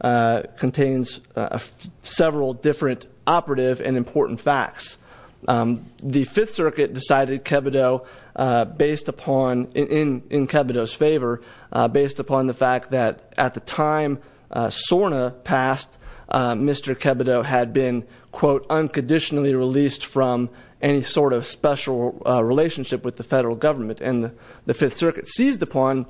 contains several different operative and important facts. The Fifth Circuit decided in Kebido's favor based upon the fact that at the time SORNA passed, Mr. Kebido had been quote unconditionally released from any sort of special relationship with the federal government and the Fifth Circuit did not include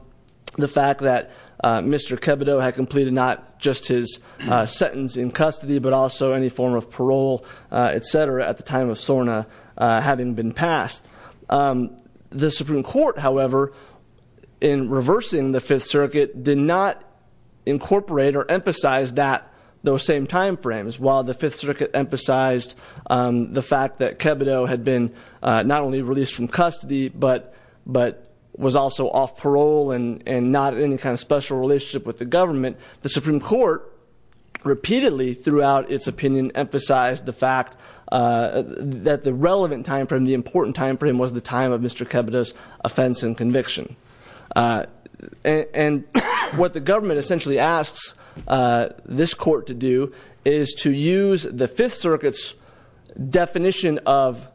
just his sentence in custody but also any form of parole, etc. at the time of SORNA having been passed. The Supreme Court, however, in reversing the Fifth Circuit, did not incorporate or emphasize those same time frames. While the Fifth Circuit emphasized the fact that Kebido had been not only released from custody but was also off parole and not in any kind of special relationship with the government, the Supreme Court repeatedly throughout its opinion emphasized the fact that the relevant time frame, the important time frame, was the time of Mr. Kebido's offense and conviction. And what the government essentially asks this court to do is to use the Fifth Circuit's definition of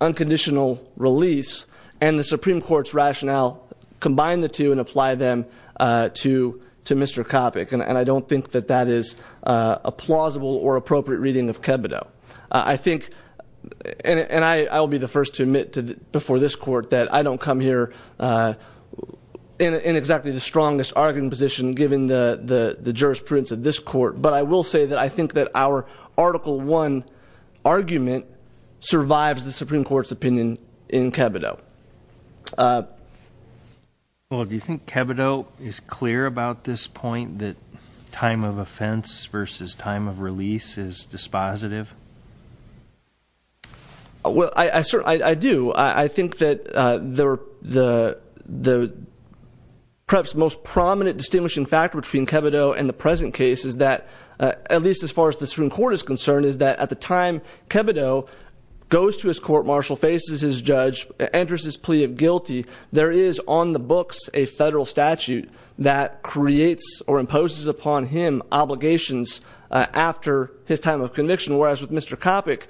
unconditional release and the Supreme Court's rationale, combine the two and apply them to Mr. Coppock. And I don't think that that is a plausible or appropriate reading of Kebido. I think, and I'll be the first to admit before this court that I don't come here in exactly the strongest arguing position given the jurisprudence of this court. But I will say that I think that our Article I argument survives the Supreme Court's opinion in Kebido. Well, do you think Kebido is clear about this point, that time of offense versus time of release is dispositive? Well, I do. I think that the perhaps most prominent distinguishing factor between Kebido and the present case is that, at least as far as the Supreme Court is concerned, is that at the time Kebido goes to his court-martial, faces his judge, enters his plea of guilty, there is on the books a federal statute that creates or imposes upon him obligations after his time of conviction. Whereas with Mr. Coppock,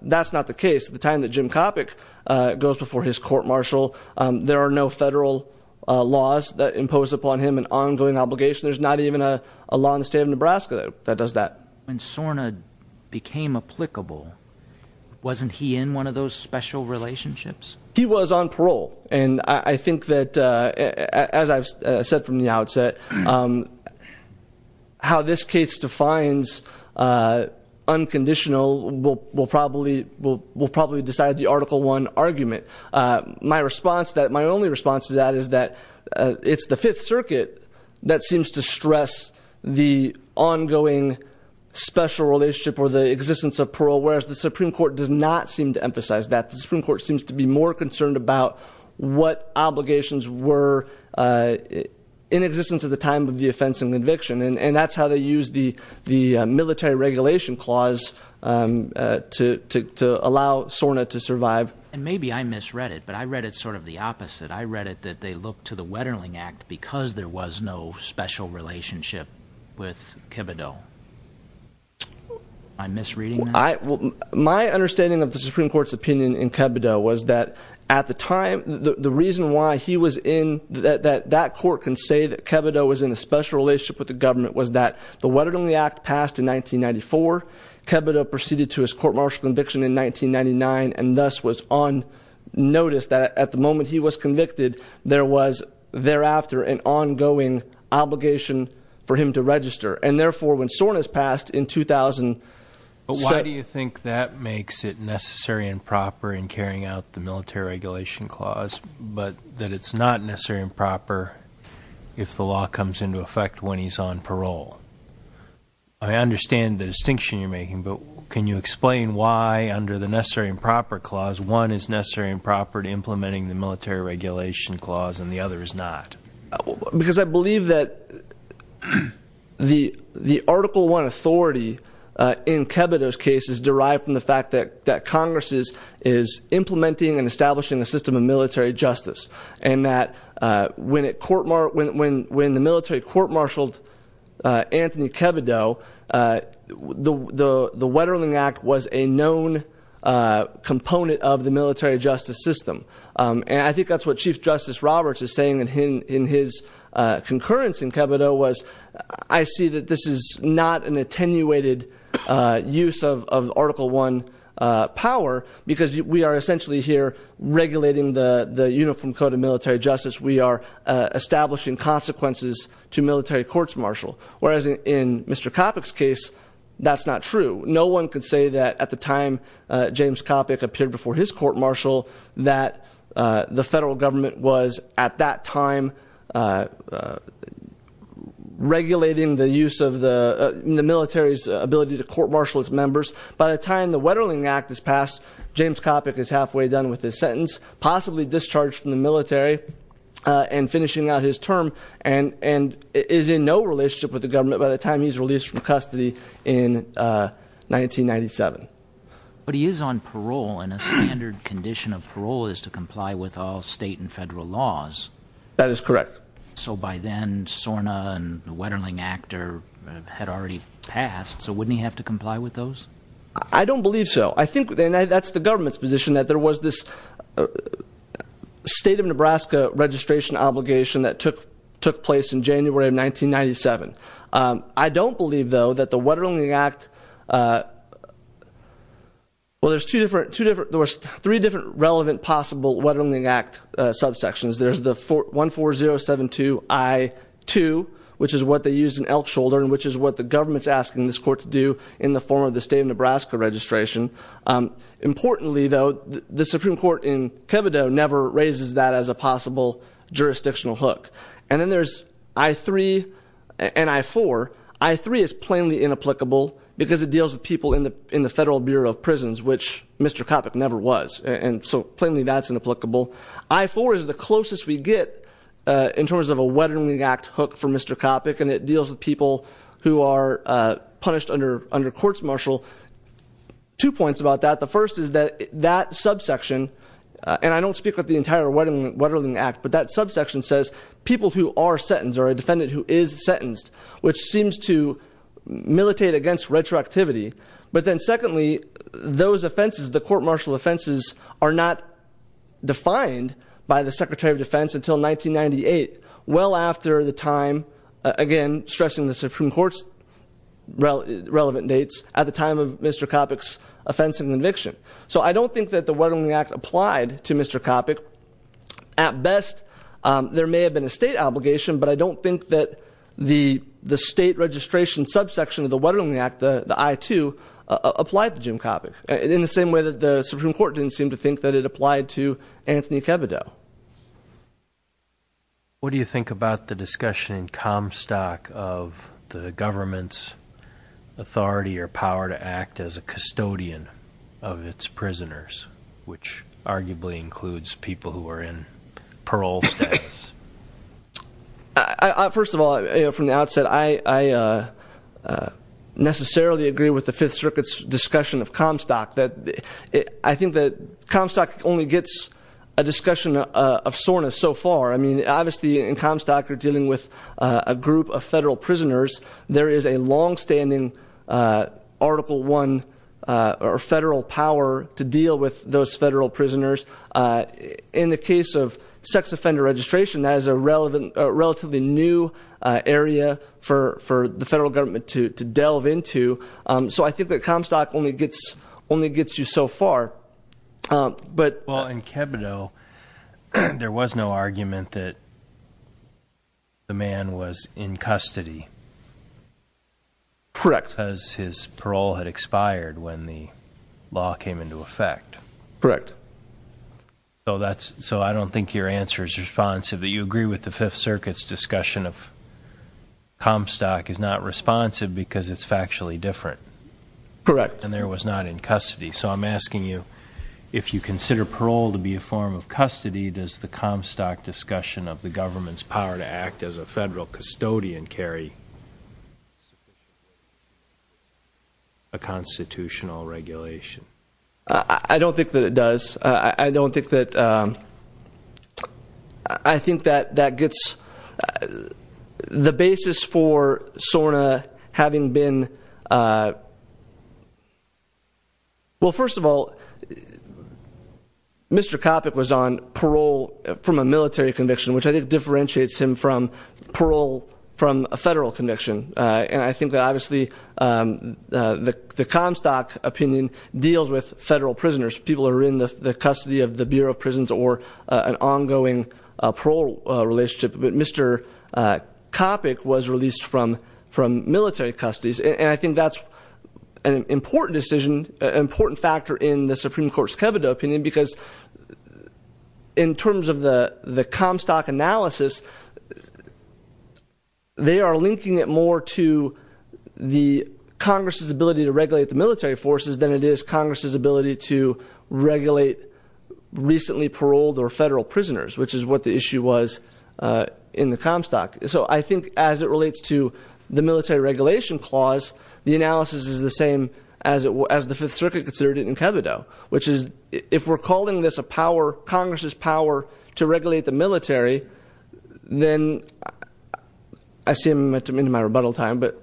that's not the case. The time that Jim Coppock goes before his court-martial, there are no federal laws that impose upon him an ongoing obligation. There's not even a law in the state of Nebraska that does that. When Sorna became applicable, wasn't he in one of those special relationships? He was on parole. And I think that, as I've said from the outset, how this case defines unconditional will My only response to that is that it's the Fifth Circuit that seems to stress the ongoing special relationship or the existence of parole, whereas the Supreme Court does not seem to emphasize that. The Supreme Court seems to be more concerned about what obligations were in existence at the time of the offense and conviction. And that's how they use the military regulation clause to allow Sorna to survive. And maybe I misread it, but I read it sort of the opposite. I read it that they looked to the Wetterling Act because there was no special relationship with Kibbedo. Am I misreading that? My understanding of the Supreme Court's opinion in Kibbedo was that at the time, the reason why he was in, that that court can say that Kibbedo was in a special relationship with the government was that the Wetterling Act passed in 1994. Kibbedo proceeded to his court-martial conviction in 1999 and thus was on notice that at the moment he was convicted, there was thereafter an ongoing obligation for him to register. And therefore, when Sorna's passed in 2007... But why do you think that makes it necessary and proper in carrying out the military regulation clause, but that it's not necessary and proper if the law comes into effect when he's on parole? I understand the distinction you're making, but can you explain why, under the necessary and proper clause, one is necessary and proper to implementing the military regulation clause and the other is not? Because I believe that the Article 1 authority in Kibbedo's case is derived from the fact that Congress is implementing and establishing a system of military justice, and that when the military court-martialed Anthony Kibbedo, the Wetterling Act was a known component of Kibbedo, I see that this is not an attenuated use of Article 1 power, because we are essentially here regulating the Uniform Code of Military Justice. We are establishing consequences to military court-martial. Whereas in Mr. Coppock's case, that's not true. No one could say that at the time James Coppock appeared before his court-martial that the federal government was, at that time, regulating the use of the military's ability to court-martial its members. By the time the Wetterling Act is passed, James Coppock is halfway done with his sentence, possibly discharged from the military and finishing out his term, and is in no relationship with the government by the time he's released from custody in 1997. But he is on parole, and a standard condition of parole is to comply with all state and federal laws. That is correct. So by then, SORNA and the Wetterling Act had already passed, so wouldn't he have to comply with those? I don't believe so. I think, and that's the government's position, that there was this State of Nebraska registration obligation that took place in January of 1997. I don't believe, though, that the Wetterling Act, well, there's two different, three different relevant possible Wetterling Act subsections. There's the 14072 I-2, which is what they used in Elk Shoulder, and which is what the government's asking this court to do in the form of the State of Nebraska registration. Importantly, though, the Supreme Court in Kebido never raises that as a possible jurisdictional hook. And then there's I-3 and I-4. I-3 is plainly inapplicable because it deals with people in the Federal Bureau of Prisons, which Mr. Coppock never was. And so, plainly, that's inapplicable. I-4 is the closest we get in terms of a Wetterling Act hook for Mr. Coppock, and it deals with people who are subsection, and I don't speak of the entire Wetterling Act, but that subsection says people who are sentenced or a defendant who is sentenced, which seems to militate against retroactivity. But then, secondly, those offenses, the court martial offenses, are not defined by the Secretary of Defense until 1998, well after the time, again, stressing the Supreme Court's relevant dates, at the time of Mr. Coppock's offense and conviction. So I don't think that the Wetterling Act applied to Mr. Coppock. At best, there may have been a State obligation, but I don't think that the State registration subsection of the Wetterling Act, the I-2, applied to Jim Coppock, in the same way that the Supreme Court didn't seem to think that it applied to Anthony Kebido. What do you think about the discussion in Comstock of the government's authority or power to act as a custodian of its prisoners, which arguably includes people who are in parole status? First of all, from the outset, I necessarily agree with the Fifth Circuit's discussion of Comstock. I think that Comstock only gets a discussion of SORNA so far. I mean, obviously, in Comstock, you're dealing with a group of federal prisoners. There is a longstanding Article I federal power to deal with those federal prisoners. In the case of sex offender registration, that is a relatively new area for the federal government to delve into. So I think that Comstock only gets you so far. Well, in Kebido, there was no argument that the man was in custody. Correct. Because his parole had expired when the law came into effect. Correct. So I don't think your answer is that this discussion of Comstock is not responsive because it's factually different. Correct. And there was not in custody. So I'm asking you, if you consider parole to be a form of custody, does the Comstock discussion of the government's power to act as a federal custodian carry a constitutional regulation? I don't think that it does. I don't think that the basis for SORNA having been well, first of all, Mr. Coppock was on parole from a military conviction, which I think differentiates him from parole from a federal conviction. And I think that obviously the Comstock opinion deals with federal prisoners. People are in the custody of the Bureau of Prisons or an ongoing parole relationship. But Mr. Coppock was released from military custody. And I think that's an important decision, an important factor in the Supreme Court's Kebido opinion because in terms of the Comstock analysis, they are linking it more to the Congress' ability to regulate the military forces than it is Congress' ability to regulate recently paroled or federal prisoners, which is what the issue was in the Comstock. So I think as it relates to the military regulation clause, the analysis is the same as the Fifth Circuit considered it in Kebido, which is if we're calling this a power, Congress' power to regulate the military, then I see I'm into my rebuttal time, but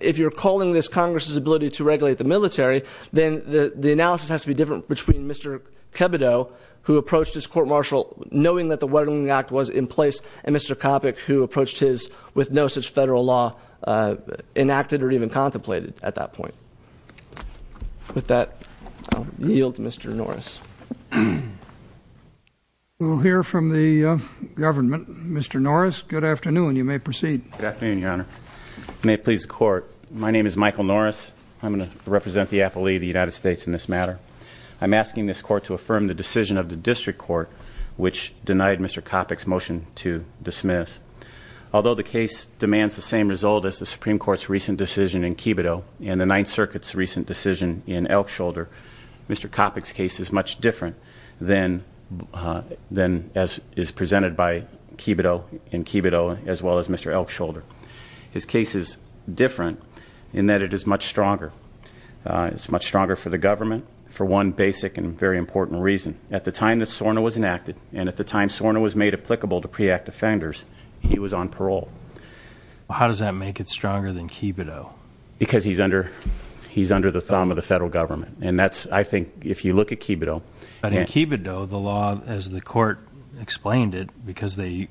if you're calling this Congress' ability to regulate the military, then the analysis has to be different between Mr. Kebido, who approached his court-martial knowing that the Weddling Act was in place, and Mr. Coppock, who approached his with no such federal law enacted or even contemplated at that point. With that, I'll yield to Mr. Norris. We'll hear from the government. Mr. Norris, good afternoon. You may proceed. Good afternoon, Your Honor. May it please the Court, my name is Michael Norris. I'm going to represent the appellee of the United States in this matter. I'm asking this Court to affirm the decision of the District Court, which denied Mr. Coppock's motion to dismiss. Although the case demands the same result as the Supreme Court's recent decision in Kebido and the Ninth Circuit's recent decision in Elkshoulder, Mr. Coppock's case is much different than as is presented by Kebido in Kebido as well as Mr. Elkshoulder. His case is different in that it is much stronger. It's much stronger for the government for one basic and very important reason. At the time that SORNA was enacted and at the time SORNA was made applicable to pre-act offenders, he was on parole. How does that make it stronger than Kebido? Because he's under the thumb of the federal government and that's, I think, if you look at Kebido. But in Kebido, the law, as the Court explained it, because they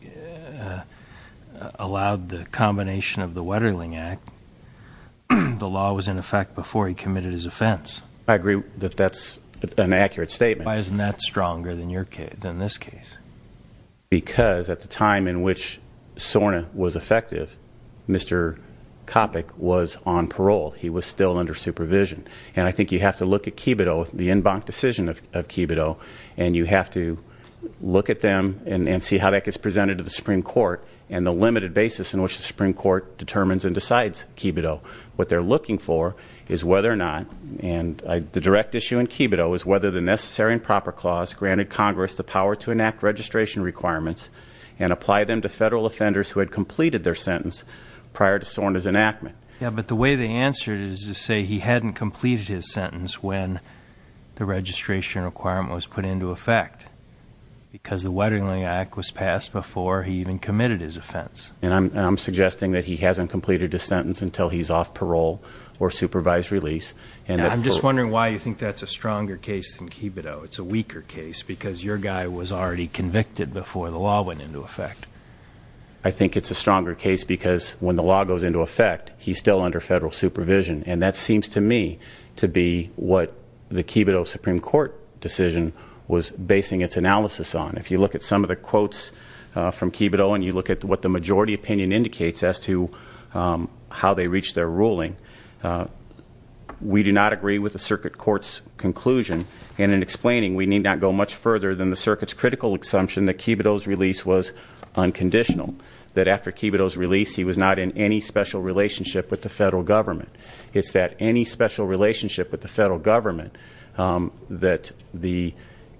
allowed the combination of the Wetterling Act, the law was in effect before he committed his offense. I agree that that's an accurate statement. Why isn't that stronger than this case? Because at the time in which SORNA was effective, Mr. Coppock was on parole. He was still under supervision. And I think you have to look at Kebido, the en banc decision of Kebido, and you have to look at them and see how that gets presented to the Supreme Court and the limited basis in which the Supreme Court determines and decides Kebido. What they're looking for is whether or not, and the direct issue in Kebido is whether the Necessary and Proper Clause granted Congress the power to enact registration requirements and apply them to federal offenders who had completed their sentence prior to SORNA's enactment. Yeah, but the way they answered it is to say he hadn't completed his sentence when the registration requirement was put into effect because the Wetterling Act was passed before he even committed his offense. And I'm suggesting that he hasn't completed his sentence until he's off parole or supervised release. I'm just wondering why you think that's a stronger case than Kebido. It's a weaker case because your guy was already convicted before the law went into effect. I think it's a stronger case because when the law goes into effect, he's still under federal supervision. And that seems to me to be what the Kebido Supreme Court decision was basing its analysis on. If you look at some of the quotes from Kebido and you look at what the majority opinion indicates as to how they reached their ruling, we do not agree with the Circuit Court's conclusion. And in explaining, we need not go much further than the Circuit's critical assumption that Kebido's release was unconditional. That after Kebido's release, he was not in any special relationship with the federal government. It's that any special relationship with the federal government that the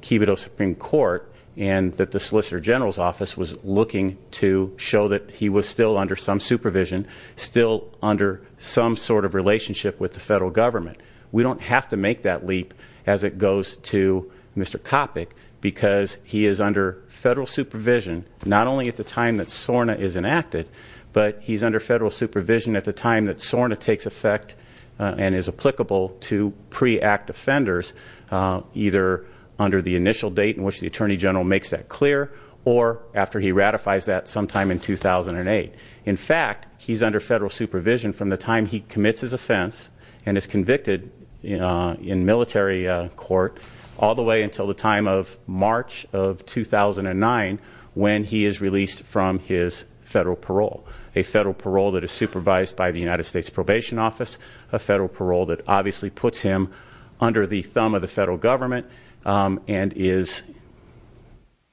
Kebido Supreme Court and that the Solicitor General's office was looking to show that he was still under some supervision, still under some sort of relationship with the federal government. We don't have to make that leap as it goes to Mr. Coppock because he is under federal supervision not only at the time that SORNA is enacted, but he's under federal supervision at the time that SORNA takes effect and is applicable to pre-act offenders either under the initial date in which the Attorney General makes that clear or after he ratifies that sometime in 2008. In fact, he's under federal supervision from the time he commits his offense and is convicted in military court all the way until the time of March of 2009 when he is released from his federal parole. A federal parole that is supervised by the United States Probation Office, a federal parole that obviously puts him under the thumb of the federal government and is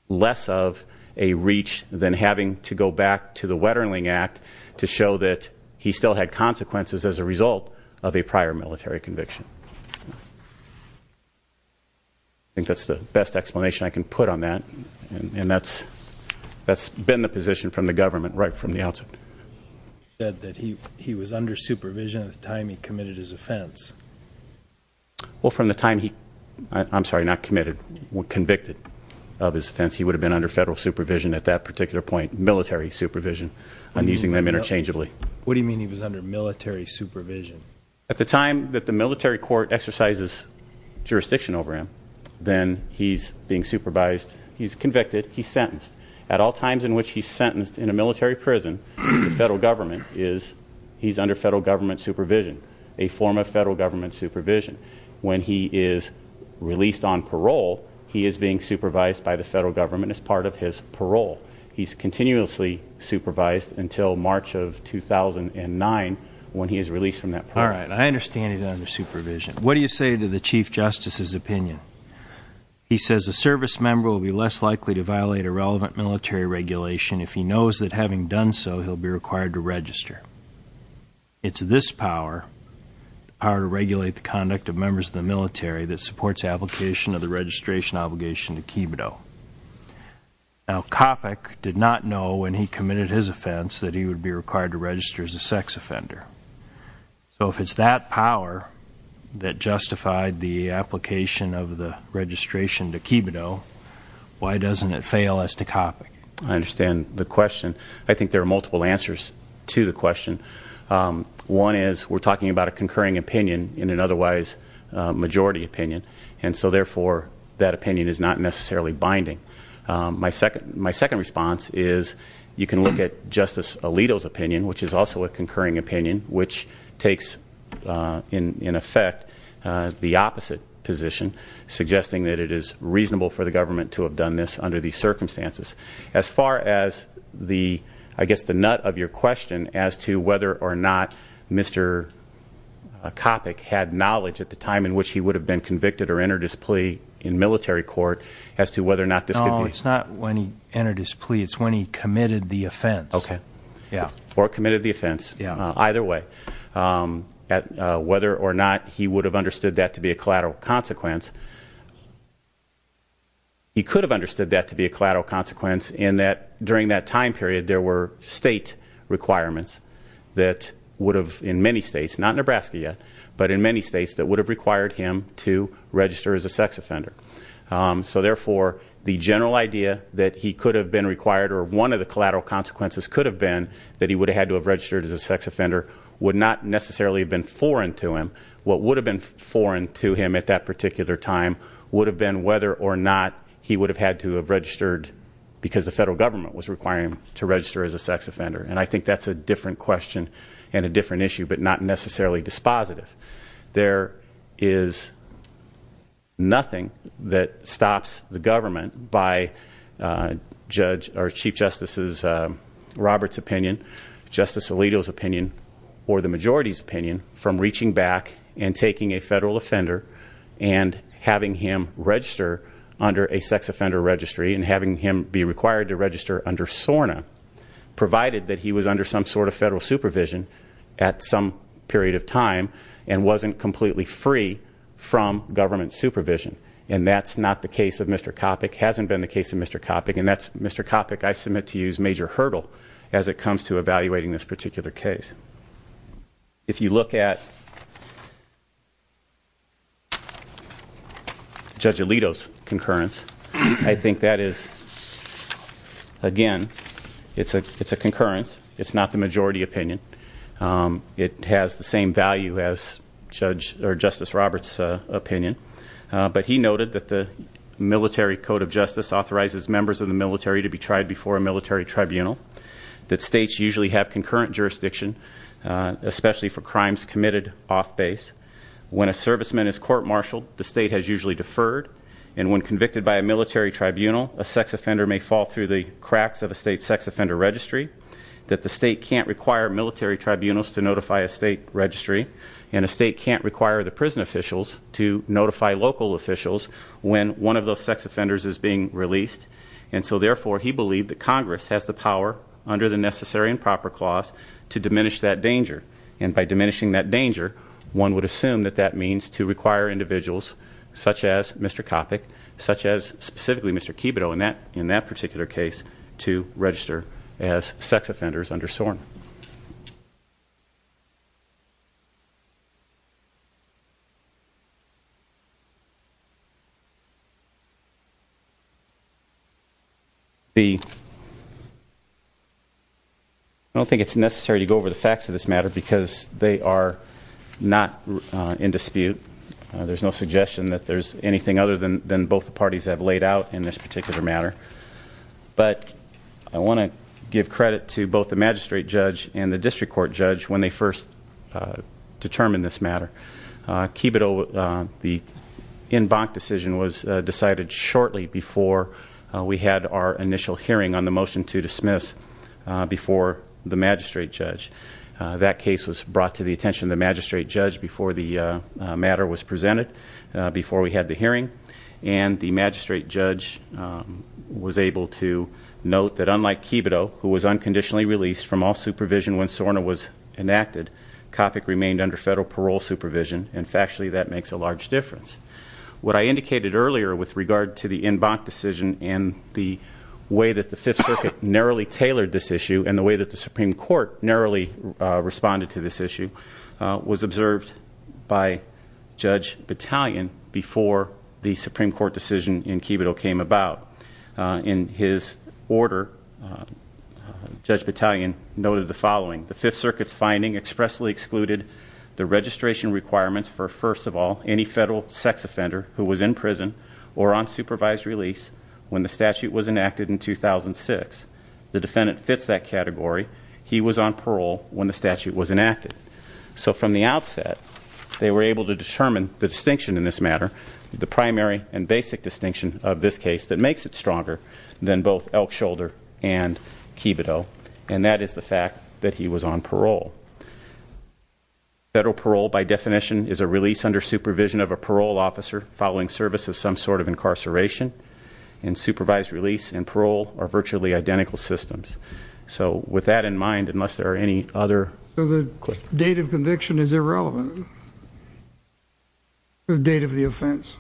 less of a reach than having to go back to the Wetterling Act to show that he still had consequences as a result of a prior military conviction. I think that's the best explanation I can put on that and that's been the position from the government right from the outset. You said that he was under supervision at the time he committed his offense. Well, from the time he, I'm sorry, not committed, convicted of his What do you mean he was under military supervision? At the time that the military court exercises jurisdiction over him, then he's being supervised, he's convicted, he's sentenced. At all times in which he's sentenced in a military prison, the federal government is, he's under federal government supervision, a form of federal government supervision. When he is released on parole, he is being supervised by the federal government as part of his parole. He's continuously supervised until March of 2009 when he is released from that parole. All right. I understand he's under supervision. What do you say to the Chief Justice's opinion? He says a service member will be less likely to violate a relevant military regulation if he knows that having done so, he'll be required to register. It's this power, the power to regulate the conduct of members of the military that supports application of the registration obligation to Kibito. Now, Coppock did not know when he committed his offense that he would be required to register as a sex offender. So if it's that power that justified the application of the registration to Kibito, why doesn't it fail as to Coppock? I understand the question. I think there are multiple answers to the question. One is we're talking about a concurring opinion in an otherwise majority opinion. And so, therefore, that opinion is not necessarily binding. My second response is you can look at Justice Alito's opinion, which is also a concurring opinion, which takes, in effect, the opposite position, suggesting that it is reasonable for the government to have done this under these circumstances. As far as, I guess, the nut of your question as to whether or not Mr. Coppock had knowledge at the time in which he would have been convicted or entered his plea in military court as to whether or not this could be. No, it's not when he entered his plea. It's when he committed the offense. Or committed the offense. Either way. Whether or not he would have understood that to be a collateral consequence. He could have understood that to be a collateral consequence in that during that time period there were state requirements that would have, in many states, not Nebraska yet, but in many states, that would have required him to register as a sex offender. So, therefore, the general idea that he could have been required or one of the collateral consequences could have been that he would have had to have registered as a sex offender would not necessarily have been foreign to him. What would have been foreign to him at that particular time would have been whether or not he would have had to have registered because the federal government was requiring him to register as a sex offender. And I think that's a different question and a different issue, but not necessarily dispositive. There is nothing that stops the government by Chief Justice Roberts' opinion, Justice Alito's opinion, or the majority's opinion from reaching back and taking a federal offender and having him register under a sex offender registry and having him be required to register under SORNA. Provided that he was under some sort of federal supervision at some period of time and wasn't completely free from government supervision. And that's not the case of Mr. Coppock, hasn't been the case of Mr. Coppock, and that's Mr. Coppock I submit to you as a major hurdle as it comes to evaluating this particular case. If you look at Judge Alito's concurrence, I think that is again, it's a concurrence, it's not the majority opinion. It has the same value as Justice Roberts' opinion. But he noted that the Military Code of Justice authorizes members of the military to be tried before a military tribunal. That states usually have concurrent jurisdiction especially for crimes committed off base. When a serviceman is court marshaled, the state has usually deferred. And when convicted by a military tribunal, a sex offender may fall through the cracks of a state sex offender registry. That the state can't require military tribunals to notify a state registry. And a state can't require the prison officials to notify local officials when one of those sex offenders is being released. And so therefore, he believed that Congress has the power under the Necessary and Proper Clause to diminish that danger. And by diminishing that danger, one would assume that that means to require individuals such as Mr. Coppock, such as specifically Mr. Kibito in that particular case to register as sex offenders under SORN. I don't think it's necessary to go over the facts of this matter because they are not in dispute. There's no suggestion that there's anything other than both parties have laid out in this particular matter. But I want to give credit to both the magistrate judge and the district court judge when they first determined this matter. Kibito, the decision was decided shortly before we had our initial hearing on the motion to dismiss before the magistrate judge. That case was brought to the attention of the magistrate judge before the matter was presented, before we had the hearing. And the magistrate judge was able to note that unlike Kibito, who was unconditionally released from all supervision when SORN was enacted, Coppock remained under federal parole supervision. And factually, that makes a large difference. What I indicated earlier with regard to the en banc decision and the way that the Fifth Circuit narrowly tailored this issue and the way that the Supreme Court narrowly responded to this issue was observed by Judge Battalion before the Supreme Court decision in Kibito came about. In his order, Judge Battalion noted the following. The Fifth Circuit's finding expressly excluded the registration requirements for, first of all, any federal sex offender who was in prison or on supervised release when the statute was enacted in 2006. The defendant fits that category. He was on parole when the statute was enacted. So from the outset, they were able to determine the distinction in this matter, the primary and basic distinction of this case that makes it stronger than both Elk Shoulder and Kibito. And that is the fact that he was on parole. Federal parole, by definition, is a release under supervision of a parole officer following service of some sort of incarceration. And supervised release and parole are virtually identical systems. So with that in mind, unless there are any other questions. The date of conviction is irrelevant. The date of the offense.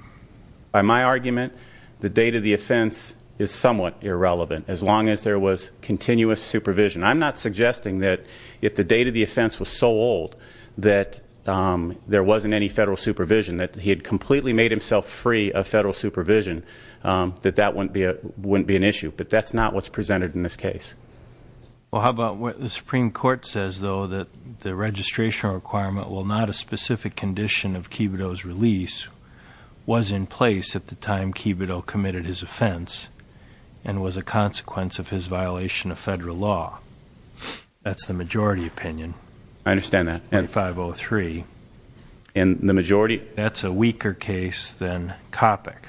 By my argument, the date of the offense is somewhat irrelevant, as long as there was continuous supervision. I'm not suggesting that if the date of the offense was so old that there wasn't any federal supervision, that he had completely made himself free of federal supervision, that that wouldn't be an issue. But that's not what's the majority opinion. I understand that. And the majority? That's a weaker case than Coppock.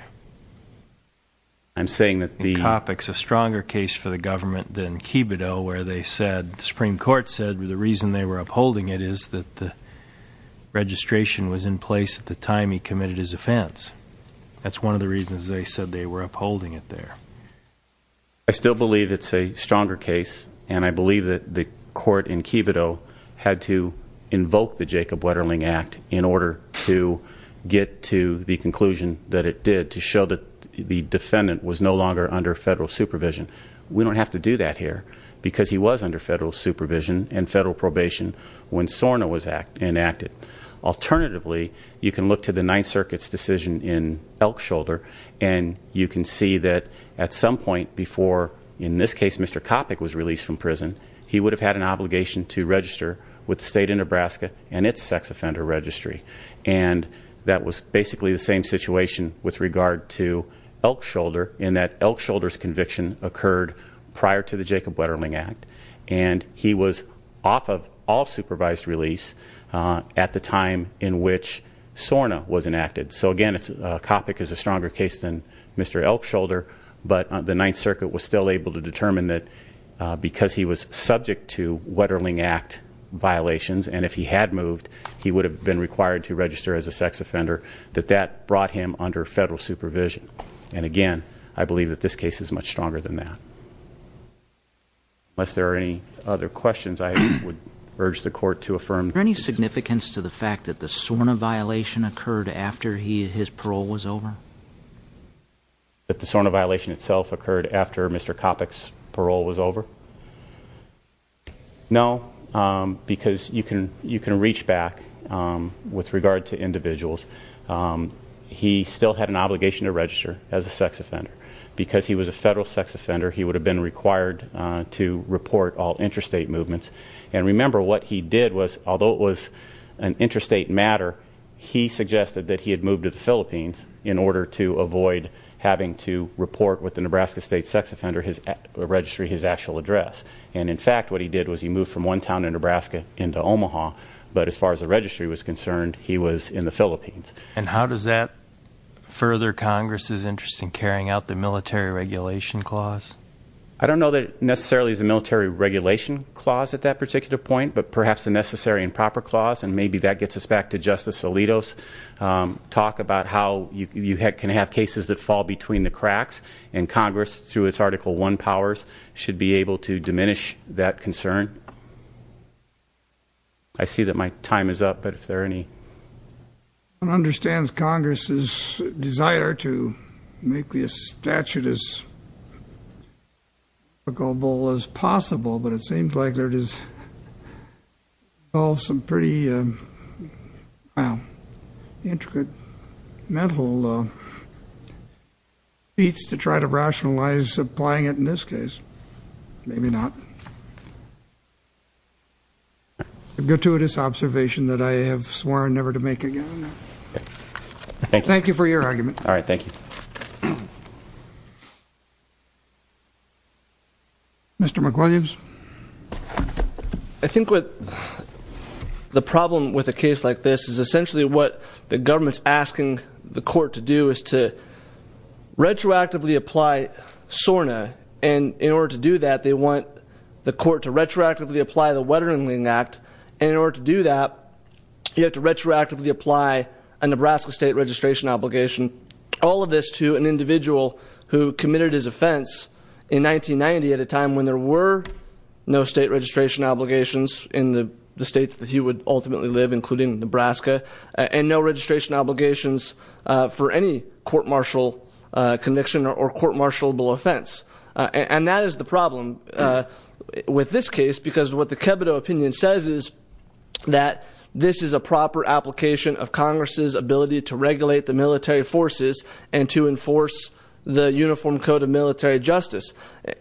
I'm saying that the... Coppock's a stronger case for the government than Kibito, where they said, the Supreme Court, when they were upholding it, is that the registration was in place at the time he committed his offense. That's one of the reasons they said they were upholding it there. I still believe it's a stronger case, and I believe that the court in Kibito had to invoke the Jacob Wetterling Act in order to get to the conclusion that it did, to show that the defendant was no longer under federal supervision. We don't have to do that here, because he was under federal supervision and federal probation when SORNA was enacted. Alternatively, you can look to the Ninth Circuit's decision in Elkshoulder, and you can see that at some point before, in this case, Mr. Coppock was released from prison, he would have had an obligation to register with the state of Nebraska and its sex offender registry. And that was basically the same situation with regard to Elkshoulder, in that Elkshoulder's conviction occurred prior to the Jacob Wetterling Act, and he was off of all supervised release at the time in which SORNA was enacted. So again, Coppock is a stronger case than Mr. Elkshoulder, but the Ninth Circuit was still able to determine that because he was subject to Wetterling Act violations, and if he had moved, he would have been required to register as a sex offender, that that brought him under federal supervision. And again, I believe that this case is much stronger than that. Unless there are any other questions, I would urge the Court to affirm. Is there any significance to the fact that the SORNA violation occurred after his parole was over? That the SORNA violation itself occurred after Mr. Coppock's parole was over? No, because you can reach back with regard to individuals. He still had an obligation to register as a sex offender. Because he was a federal sex offender, he would have been required to report all interstate movements. And remember, what he did was, although it was an interstate matter, he suggested that he had moved to the Philippines, and that was under his registry, his actual address. And in fact, what he did was he moved from one town in Nebraska into Omaha, but as far as the registry was concerned, he was in the Philippines. And how does that further Congress's interest in carrying out the military regulation clause? I don't know that it necessarily is a military regulation clause at that particular point, but perhaps a necessary and proper clause, and maybe that gets us back to Justice Alito's talk about how you can have cases that fall between the cracks, and Congress, through its Article I powers, should be able to diminish that concern. I see that my time is up, but if there are any... One understands Congress's desire to make this statute as applicable as possible, but it seems like there is all some pretty, well, intricate mental feats to try to rationalize applying it in this case. Maybe not. A gratuitous observation that I have sworn never to make again. Thank you for your argument. All right, thank you. Mr. McWilliams? I think the problem with a case like this is essentially what the government is asking the court to do is to retroactively apply SORNA, and in order to do that they want the court to retroactively apply the Wettering Act, and in order to do that you have to retroactively apply a Nebraska state registration obligation, all of this to an individual who committed his offense in 1990 at a time when there were no state registration obligations in the states that he would ultimately live, including Nebraska, and no registration obligations for any court-martial conviction or court-martialable offense. And that is the problem with this case, because what the Kebido opinion says is that this is a proper application of Congress' ability to regulate the military forces and to enforce the Uniform Code of Military Justice,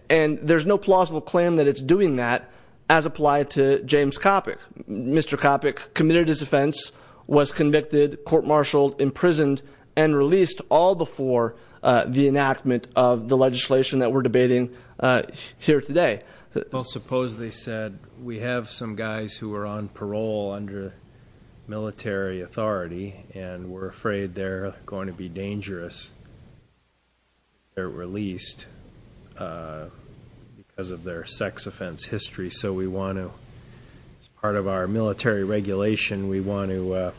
and there's no plausible claim that it's doing that as applied to James Coppock. Mr. Coppock committed his offense, was convicted, court-martialed, imprisoned, and released all before the enactment of the legislation that we're debating here today. Well, suppose they said, we have some guys who are on parole under military authority, and we're afraid they're going to be dangerous if they're released because of their sex offense history, so we want to, as part of our military regulation, we want to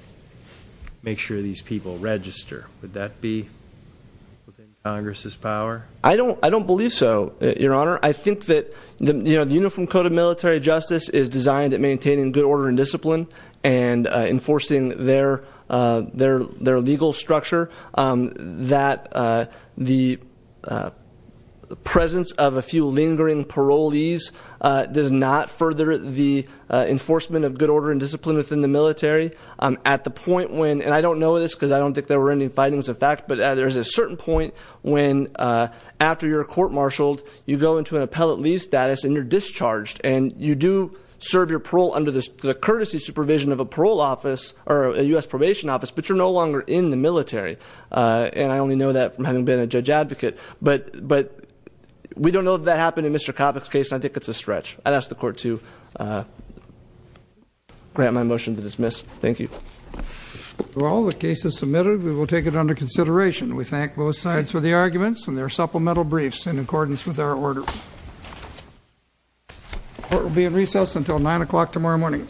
make sure these people register. Would that be within Congress' power? I don't believe so, Your Honor. I think that the Uniform Code of Military Justice is designed at maintaining good order and discipline and enforcing their legal structure, that the presence of a few lingering parolees does not further the enforcement of good order and discipline within the military. At the point when, and I don't know this because I don't think there were any findings of fact, but there's a certain point when, after you're court-martialed, you go into an appellate leave status and you're discharged, and you do serve your parole under the courtesy supervision of a parole office, or a US probation office, but you're no longer in the military. And I only know that from having been a judge advocate, but we don't know if that happened in Mr. Coppock's case, and I think it's a stretch. I'd ask the court to grant my motion to dismiss. Thank you. We thank both sides for the arguments, and there are supplemental briefs in accordance with our order. The court will be in recess until 9 o'clock tomorrow morning. Thank you.